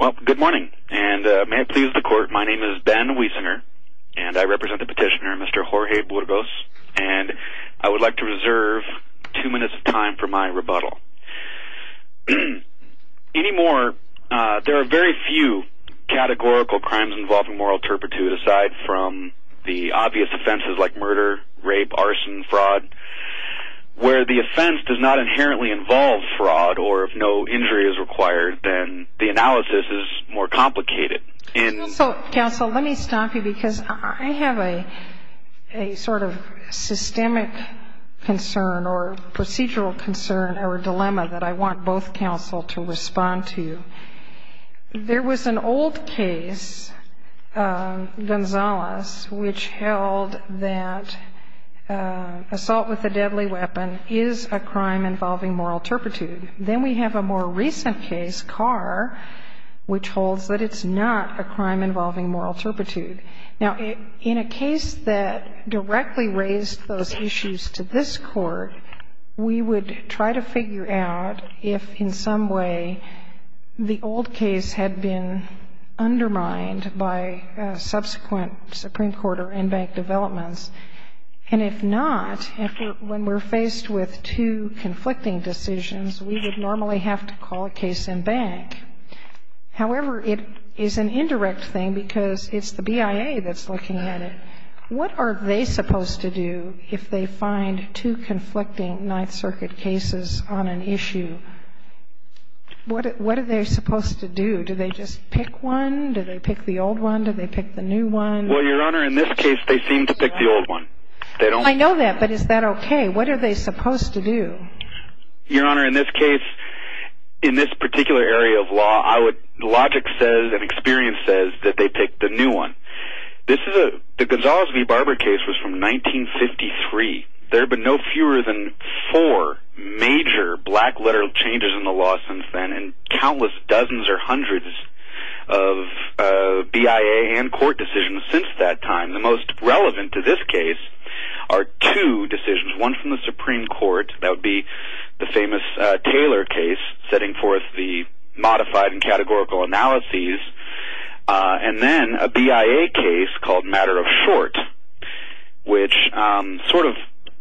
Well, good morning, and may it please the court, my name is Ben Wiesner, and I represent the petitioner Mr. Jorge Burgos, and I would like to reserve two minutes of time for my rebuttal. Anymore, there are very few categorical crimes involving moral turpitude aside from the obvious offenses like murder, rape, arson, fraud, where the offense does not inherently involve fraud, or if no injury is required, then the analysis is more complicated. So, counsel, let me stop you because I have a sort of systemic concern or procedural concern or dilemma that I want both counsel to respond to. There was an old case, Gonzalez, which held that assault with a deadly weapon is a crime involving moral turpitude. Then we have a more recent case, Carr, which holds that it's not a crime involving moral turpitude. Now, in a case that directly raised those issues to this Court, we would try to figure out if in some way the old case had been undermined by subsequent Supreme Court or in-bank decisions, we would normally have to call a case in-bank. However, it is an indirect thing because it's the BIA that's looking at it. What are they supposed to do if they find two conflicting Ninth Circuit cases on an issue? What are they supposed to do? Do they just pick one? Do they pick the old one? Do they pick the new one? Well, Your Honor, in this case, they seem to pick the old one. I know that, but is that okay? What are they supposed to do? Your Honor, in this case, in this particular area of law, logic says and experience says that they pick the new one. The Gonzalez v. Barber case was from 1953. There have been no fewer than four major black-letter changes in the law since then and countless dozens or hundreds of BIA and court decisions since that time. The most relevant to this case are two decisions, one from the Supreme Court. That would be the famous Taylor case, setting forth the modified and categorical analyses, and then a BIA case called Matter of Short, which sort of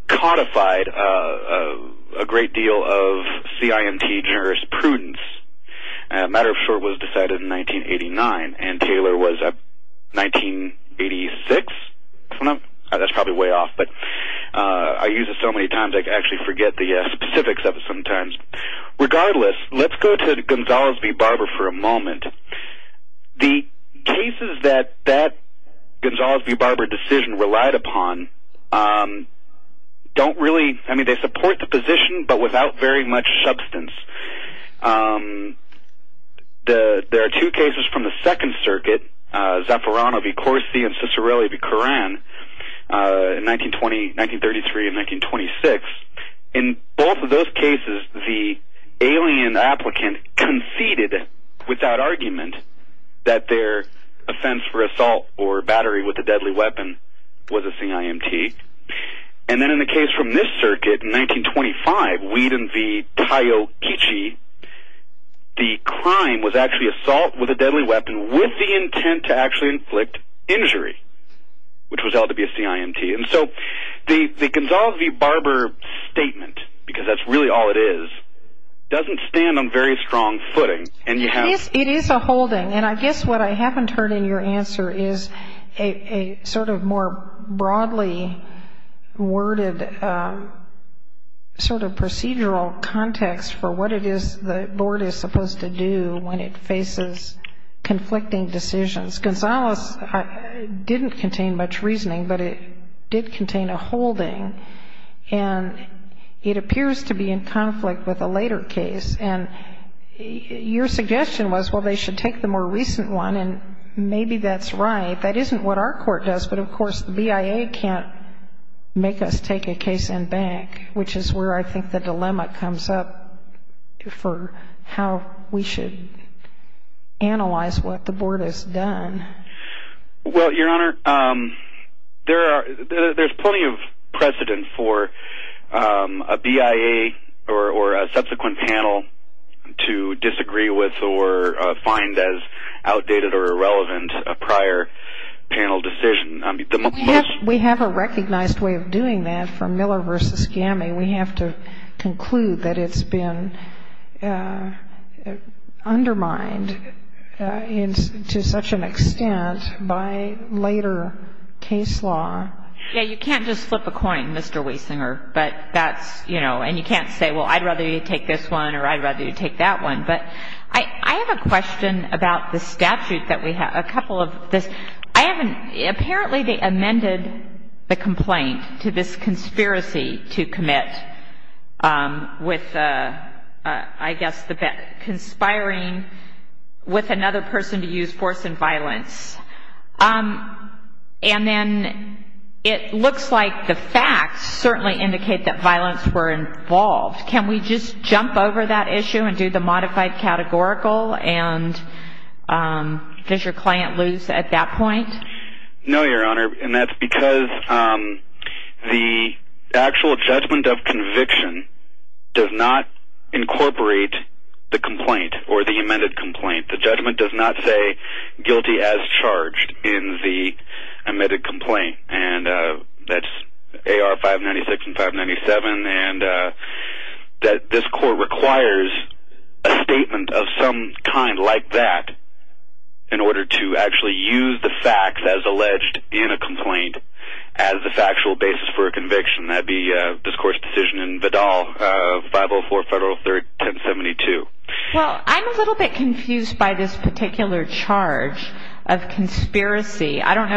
codified a great deal of CIMT jurisprudence. Matter of Short was decided in 1989, and Taylor was in 1986. That's probably way off, but I use it so many times I actually forget the specifics of it sometimes. Regardless, let's go to the Gonzalez v. Barber for a moment. The cases that that Gonzalez v. Barber decision relied upon don't really support the position, but without very much substance. There are two cases from the Second Circuit, Zaffirano v. Corsi and Cicerelli v. Curran, 1933 and 1926. In both of those cases, the alien applicant conceded, without argument, that their offense for assault or battery with a deadly weapon was a CIMT. And then in the case from this circuit in 1925, Wieden v. Taiokichi, the crime was actually assault with a deadly weapon with the intent to actually inflict injury, which was held to be a CIMT. And so the Gonzalez v. Barber statement, because that's really all it is, doesn't stand on very strong footing. It is a holding, and I guess what I haven't heard in your answer is a sort of more broadly worded sort of procedural context for what it is the board is supposed to do when it faces conflicting decisions. Gonzalez didn't contain much reasoning, but it did contain a holding, and it appears to be in conflict with a later case. And your suggestion was, well, they should take the more recent one, and maybe that's right. That isn't what our court does, but, of course, the BIA can't make us take a case and back, which is where I think the dilemma comes up for how we should analyze what the board has done. Well, Your Honor, there's plenty of precedent for a BIA or a subsequent panel to disagree with or find as outdated or irrelevant a prior panel decision. We have a recognized way of doing that for Miller v. Gammie. We have to conclude that it's been undermined to such an extent by later case law. Yeah, you can't just flip a coin, Mr. Wiesinger, but that's, you know, and you can't say, well, I'd rather you take this one or I'd rather you take that one. But I have a question about the statute that we have. Apparently they amended the complaint to this conspiracy to commit with, I guess, conspiring with another person to use force and violence. And then it looks like the facts certainly indicate that violence were involved. Can we just jump over that issue and do the modified categorical? And does your client lose at that point? No, Your Honor, and that's because the actual judgment of conviction does not incorporate the complaint or the amended complaint. The judgment does not say guilty as charged in the amended complaint. And that's AR 596 and 597, and this court requires a statement of some kind like that in order to actually use the facts as alleged in a complaint as the factual basis for a conviction. That would be this court's decision in Vidal 504 Federal 1072. Well, I'm a little bit confused by this particular charge of conspiracy. I don't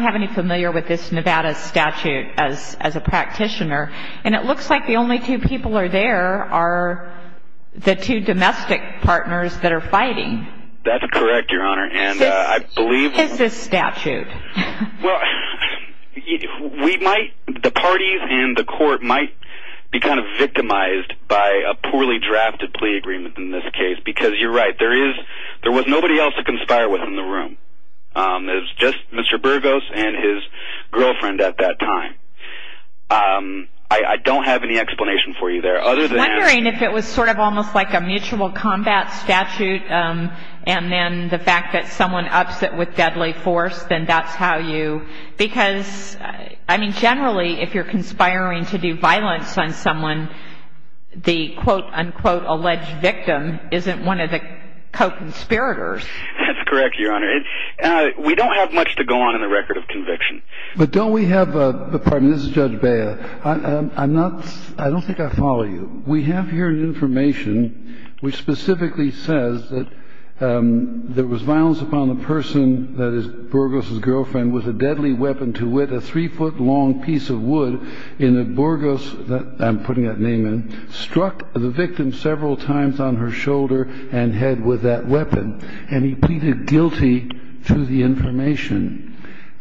have any familiar with this Nevada statute as a practitioner, and it looks like the only two people are there are the two domestic partners that are fighting. That's correct, Your Honor, and I believe... It's this statute. Well, the parties and the court might be kind of victimized by a poorly drafted plea agreement in this case because you're right, there was nobody else to conspire with in the room. It was just Mr. Burgos and his girlfriend at that time. I don't have any explanation for you there other than... I'm wondering if it was sort of almost like a mutual combat statute and then the fact that someone ups it with deadly force, then that's how you... Because, I mean, generally if you're conspiring to do violence on someone, the quote-unquote alleged victim isn't one of the co-conspirators. That's correct, Your Honor. We don't have much to go on in the record of conviction. But don't we have... Pardon me, this is Judge Bea. I'm not... I don't think I follow you. We have here information which specifically says that there was violence upon the person, that is, Burgos' girlfriend, with a deadly weapon to wit, a three-foot long piece of wood, in that Burgos, I'm putting that name in, struck the victim several times on her shoulder and head with that weapon. And he pleaded guilty to the information.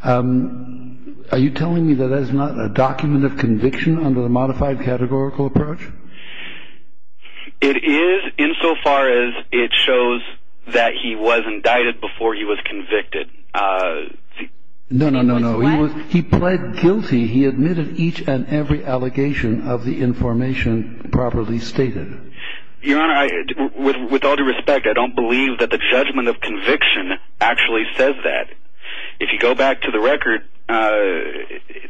Are you telling me that that is not a document of conviction under the modified categorical approach? It is, insofar as it shows that he was indicted before he was convicted. No, no, no, no. He was... He pled guilty. He admitted each and every allegation of the information properly stated. Your Honor, with all due respect, I don't believe that the judgment of conviction actually says that. If you go back to the record,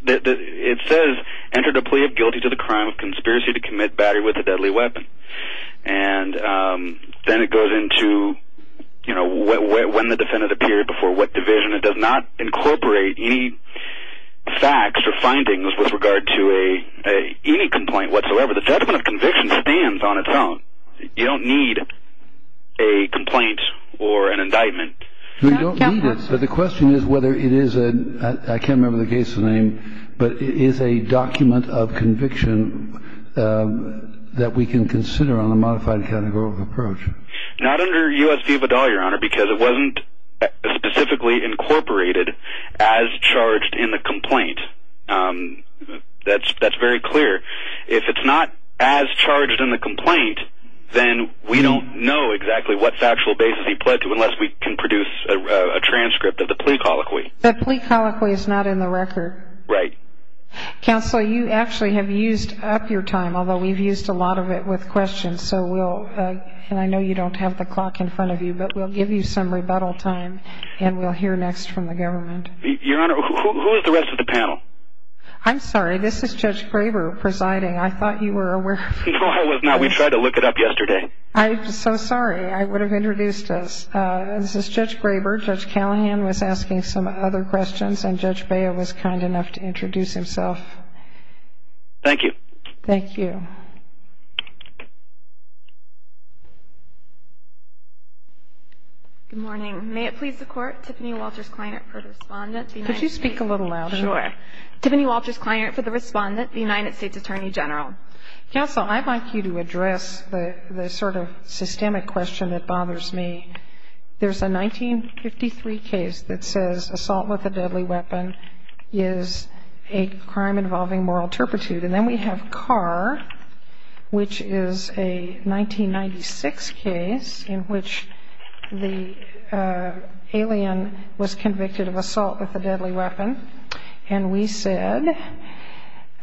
it says, entered a plea of guilty to the crime of conspiracy to commit battery with a deadly weapon. And then it goes into, you know, when the defendant appeared, before what division. It does not incorporate any facts or findings with regard to any complaint whatsoever. So the judgment of conviction stands on its own. You don't need a complaint or an indictment. No, you don't need it. But the question is whether it is a... I can't remember the case name, but is a document of conviction that we can consider on a modified categorical approach? Not under U.S. v. Vidal, Your Honor, because it wasn't specifically incorporated as charged in the complaint. That's very clear. If it's not as charged in the complaint, then we don't know exactly what factual basis he pled to unless we can produce a transcript of the plea colloquy. The plea colloquy is not in the record. Right. Counsel, you actually have used up your time, although we've used a lot of it with questions. So we'll, and I know you don't have the clock in front of you, but we'll give you some rebuttal time and we'll hear next from the government. Your Honor, who is the rest of the panel? I'm sorry. This is Judge Graber presiding. I thought you were aware. No, I was not. We tried to look it up yesterday. I'm so sorry. I would have introduced us. This is Judge Graber. Judge Callahan was asking some other questions, and Judge Baio was kind enough to introduce himself. Thank you. Thank you. Good morning. May it please the Court, Tiffany Walters Kleinert for the respondent. Could you speak a little louder? Sure. Tiffany Walters Kleinert for the respondent, the United States Attorney General. Counsel, I'd like you to address the sort of systemic question that bothers me. There's a 1953 case that says assault with a deadly weapon is a crime involving moral turpitude. And then we have Carr, which is a 1996 case in which the alien was convicted of assault with a deadly weapon. And we said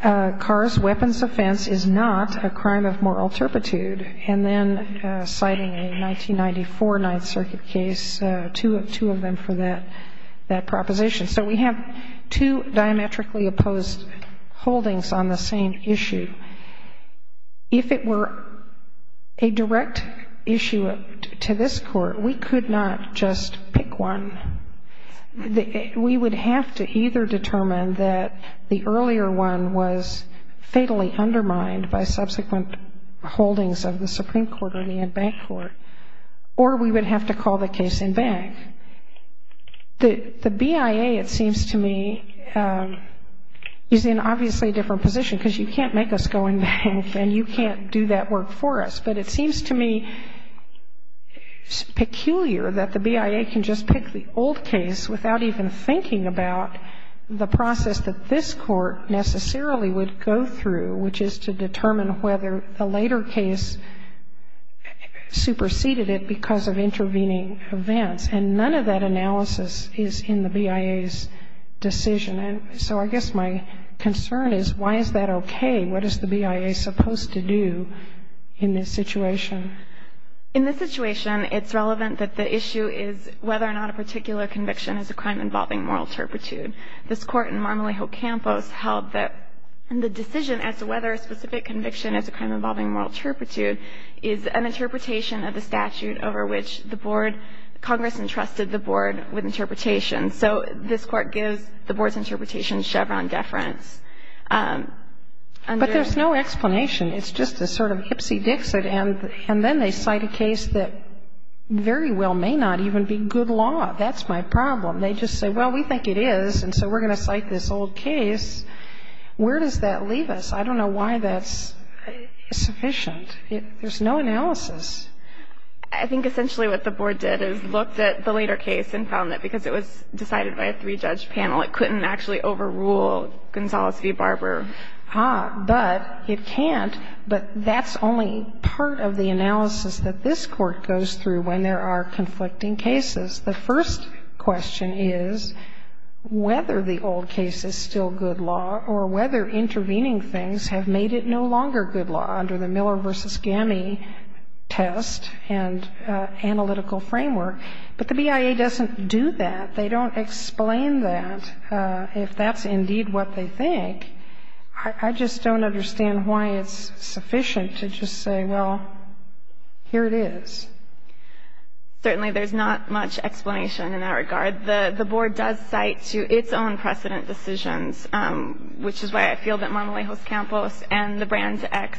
Carr's weapons offense is not a crime of moral turpitude. And then citing a 1994 Ninth Circuit case, two of them for that proposition. So we have two diametrically opposed holdings on the same issue. If it were a direct issue to this Court, we could not just pick one. We would have to either determine that the earlier one was fatally undermined by subsequent holdings of the Supreme Court or the bank court, or we would have to call the case in bank. The BIA, it seems to me, is in obviously a different position because you can't make us go in bank and you can't do that work for us. But it seems to me peculiar that the BIA can just pick the old case without even thinking about the process that this Court necessarily would go through, which is to determine whether the later case superseded it because of intervening events. And none of that analysis is in the BIA's decision. And so I guess my concern is why is that okay? What is the BIA supposed to do in this situation? In this situation, it's relevant that the issue is whether or not a particular conviction is a crime involving moral turpitude. This Court in Marmalee Hill Campus held that the decision as to whether a specific conviction is a crime involving moral turpitude is an interpretation of the statute over which the Board, Congress entrusted the Board with interpretation. So this Court gives the Board's interpretation Chevron deference. But there's no explanation. It's just a sort of hipsy-dixit, and then they cite a case that very well may not even be good law. That's my problem. They just say, well, we think it is, and so we're going to cite this old case. Where does that leave us? I don't know why that's sufficient. There's no analysis. I think essentially what the Board did is looked at the later case and found that because it was decided by a three-judge panel, it couldn't actually overrule Gonzales v. Barber. But it can't. But that's only part of the analysis that this Court goes through when there are conflicting cases. The first question is whether the old case is still good law or whether intervening things have made it no longer good law under the Miller v. Gamme test and analytical framework. But the BIA doesn't do that. They don't explain that if that's indeed what they think. I just don't understand why it's sufficient to just say, well, here it is. Certainly there's not much explanation in that regard. The Board does cite to its own precedent decisions, which is why I feel that Montelejo's campus and the Brands X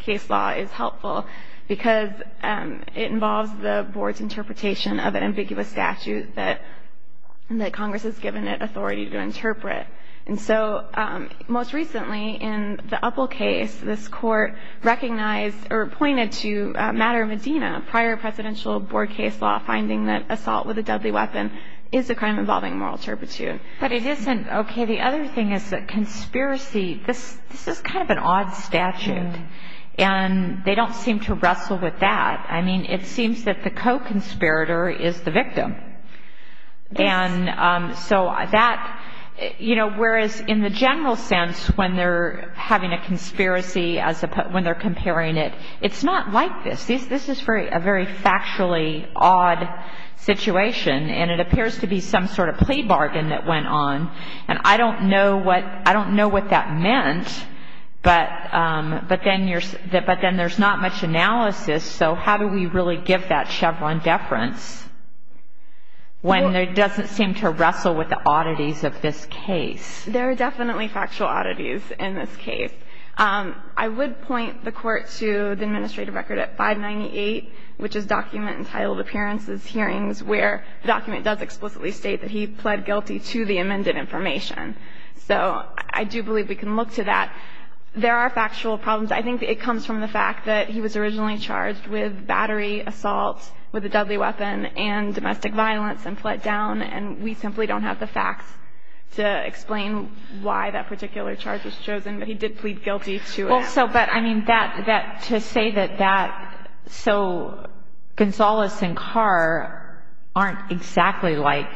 case law is helpful, because it involves the Board's interpretation of an ambiguous statute that Congress has given it authority to interpret. And so most recently in the Uppel case, this Court recognized or pointed to Matter of Medina, a prior presidential Board case law, finding that assault with a deadly weapon is a crime involving moral turpitude. But it isn't. Okay. The other thing is that conspiracy, this is kind of an odd statute. And they don't seem to wrestle with that. I mean, it seems that the co-conspirator is the victim. And so that, you know, whereas in the general sense when they're having a conspiracy, when they're comparing it, it's not like this. This is a very factually odd situation, and it appears to be some sort of plea bargain that went on. And I don't know what that meant, but then there's not much analysis. So how do we really give that Chevron deference when it doesn't seem to wrestle with the oddities of this case? There are definitely factual oddities in this case. I would point the Court to the administrative record at 598, which is document entitled Appearances, Hearings, where the document does explicitly state that he pled guilty to the amended information. So I do believe we can look to that. There are factual problems. I think it comes from the fact that he was originally charged with battery assault with a deadly weapon and domestic violence and pled down. And we simply don't have the facts to explain why that particular charge was chosen, but he did plead guilty to it. So, but, I mean, to say that that so Gonzales and Carr aren't exactly like...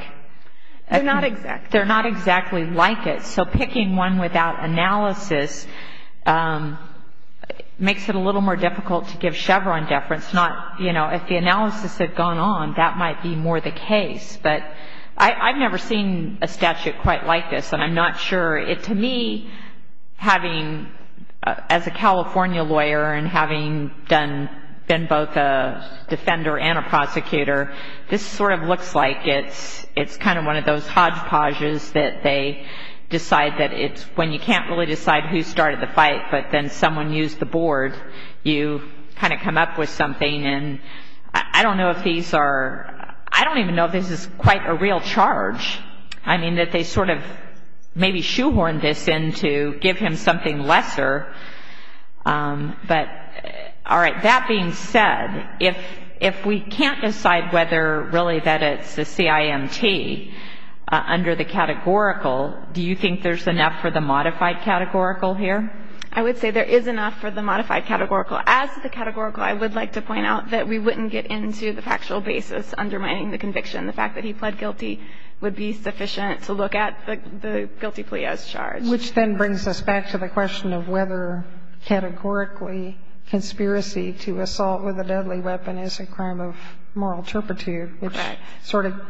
They're not exactly. They're not exactly like it. So picking one without analysis makes it a little more difficult to give Chevron deference, not, you know, if the analysis had gone on, that might be more the case. But I've never seen a statute quite like this, and I'm not sure. To me, having as a California lawyer and having been both a defender and a prosecutor, this sort of looks like it's kind of one of those hodgepodges that they decide that it's when you can't really decide who started the fight, but then someone used the board. You kind of come up with something, and I don't know if these are... I don't even know if this is quite a real charge. I mean, that they sort of maybe shoehorned this in to give him something lesser. But, all right. That being said, if we can't decide whether really that it's a CIMT under the categorical, do you think there's enough for the modified categorical here? I would say there is enough for the modified categorical. As to the categorical, I would like to point out that we wouldn't get into the factual basis undermining the conviction. The fact that he pled guilty would be sufficient to look at the guilty plea as charged. Which then brings us back to the question of whether categorically conspiracy to assault with a deadly weapon is a crime of moral turpitude, which sort of... Correct.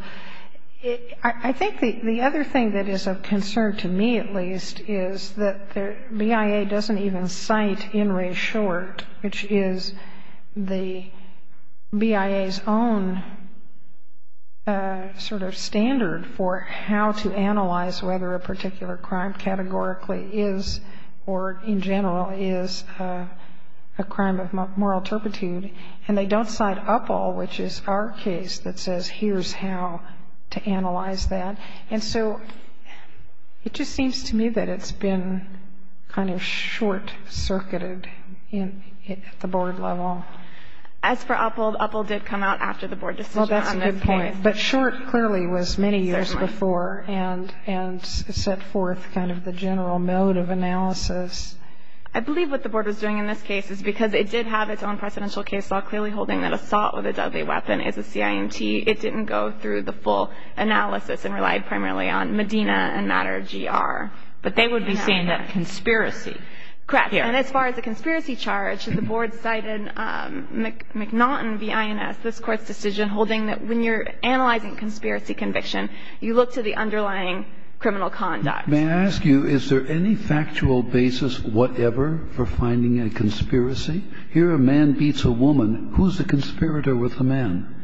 I think the other thing that is of concern to me, at least, is that the BIA doesn't even cite In Re Short, which is the BIA's own sort of standard for how to analyze whether a particular crime categorically is, or in general is, a crime of moral turpitude. And they don't cite UPL, which is our case, that says here's how to analyze that. And so it just seems to me that it's been kind of short-circuited at the board level. As for UPL, UPL did come out after the board decision on this case. Well, that's a good point. But Short clearly was many years before and set forth kind of the general mode of analysis. I believe what the board was doing in this case is because it did have its own precedential case law clearly holding that assault with a deadly weapon is a CIMT. It didn't go through the full analysis and relied primarily on Medina and Matter-G-R. But they would be saying that conspiracy. Correct. And as far as the conspiracy charge, the board cited McNaughton v. INS, this Court's decision holding that when you're analyzing conspiracy conviction, you look to the underlying criminal conduct. May I ask you, is there any factual basis whatever for finding a conspiracy? Here a man beats a woman. Who's the conspirator with the man?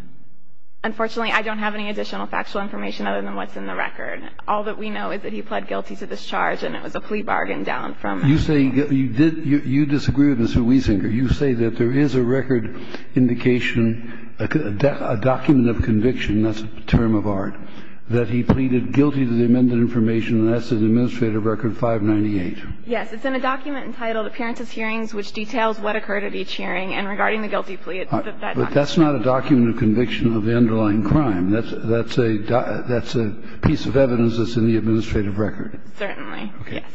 Unfortunately, I don't have any additional factual information other than what's in the record. All that we know is that he pled guilty to this charge, and it was a plea bargain down from him. You say you disagree with Ms. Huizinga. You say that there is a record indication, a document of conviction, that's a term of art, that he pleaded guilty to the amended information, and that's in Administrative Record 598. Yes. It's in a document entitled Appearances, Hearings, which details what occurred at each hearing and regarding the guilty plea. But that's not a document of conviction of the underlying crime. That's a piece of evidence that's in the Administrative Record. Certainly. Yes.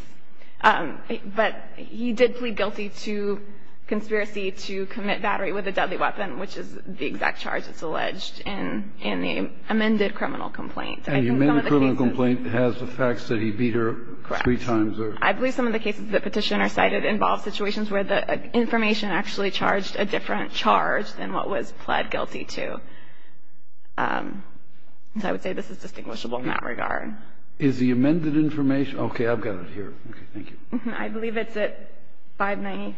But he did plead guilty to conspiracy to commit battery with a deadly weapon, which is the exact charge that's alleged in the amended criminal complaint. And the amended criminal complaint has the facts that he beat her three times. Correct. I believe some of the cases that Petitioner cited involve situations where the information actually charged a different charge than what was pled guilty to. So I would say this is distinguishable in that regard. Is the amended information? Okay. I've got it here. Okay. Thank you. I believe it's at 599.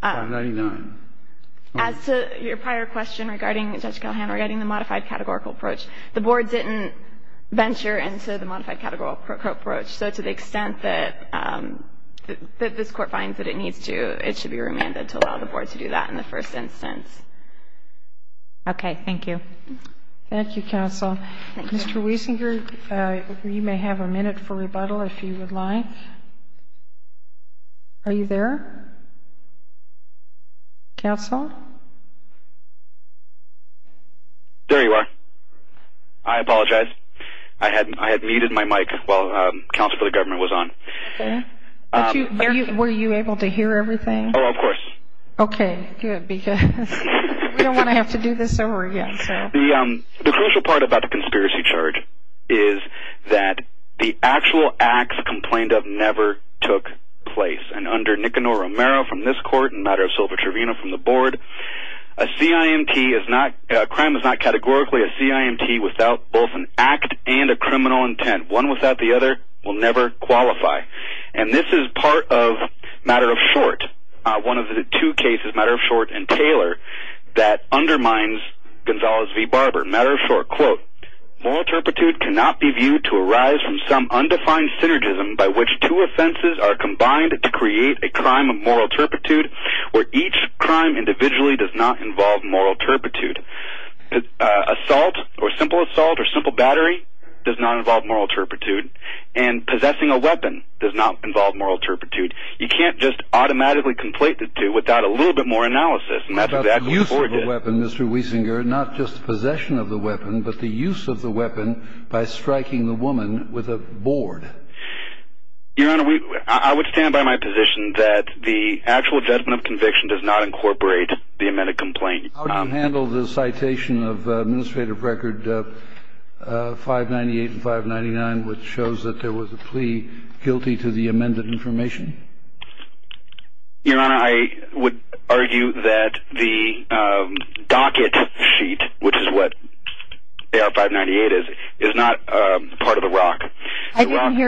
599. As to your prior question regarding Judge Callahan, regarding the modified categorical approach, the Board didn't venture into the modified categorical approach. So to the extent that this Court finds that it needs to, it should be remanded to allow the Board to do that in the first instance. Okay. Thank you. Thank you, Counsel. Mr. Wiesinger, you may have a minute for rebuttal if you would like. Are you there? Counsel? There you are. I apologize. I had muted my mic while Counsel for the Government was on. Okay. Were you able to hear everything? Oh, of course. Okay. Good. Because we don't want to have to do this over again. The crucial part about the conspiracy charge is that the actual acts complained of never took place. And under Nicanor Romero from this Court and Matter of Silver Trevino from the Board, a crime is not categorically a CIMT without both an act and a criminal intent. One without the other will never qualify. And this is part of Matter of Short, one of the two cases, Matter of Short and Taylor, that undermines Gonzales v. Barber. Matter of Short, usually does not involve moral turpitude. Assault or simple assault or simple battery does not involve moral turpitude. And possessing a weapon does not involve moral turpitude. You can't just automatically complete the two without a little bit more analysis, and that's what the actual Board did. What about the use of a weapon, Mr. Wiesinger, not just the possession of the weapon, but the use of the weapon by striking the woman with a board? Your Honor, I would stand by my position that the actual judgment of conviction does not incorporate the amended complaint. How do you handle the citation of Administrative Record 598 and 599, which shows that there was a plea guilty to the amended information? Your Honor, I would argue that the docket sheet, which is what AR-598 is, is not part of the ROC.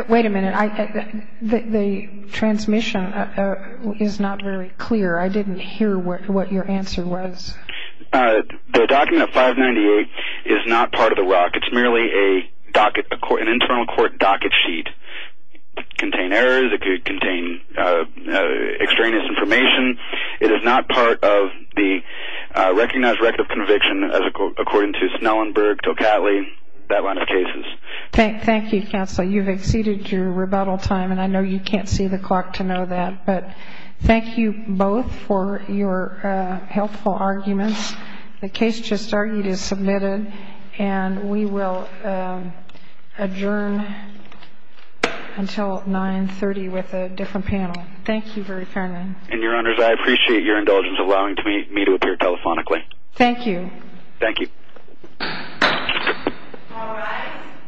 Wait a minute. The transmission is not very clear. I didn't hear what your answer was. The document of 598 is not part of the ROC. It's merely an internal court docket sheet. It could contain errors. It could contain extraneous information. It is not part of the recognized record of conviction, according to Snellenberg, Tocatli, that line of cases. Thank you, Counsel. You've exceeded your rebuttal time, and I know you can't see the clock to know that. But thank you both for your helpful arguments. The case just argued is submitted, and we will adjourn until 930 with a different panel. Thank you very fairly. And, Your Honors, I appreciate your indulgence in allowing me to appear telephonically. Thank you. Thank you. All rise.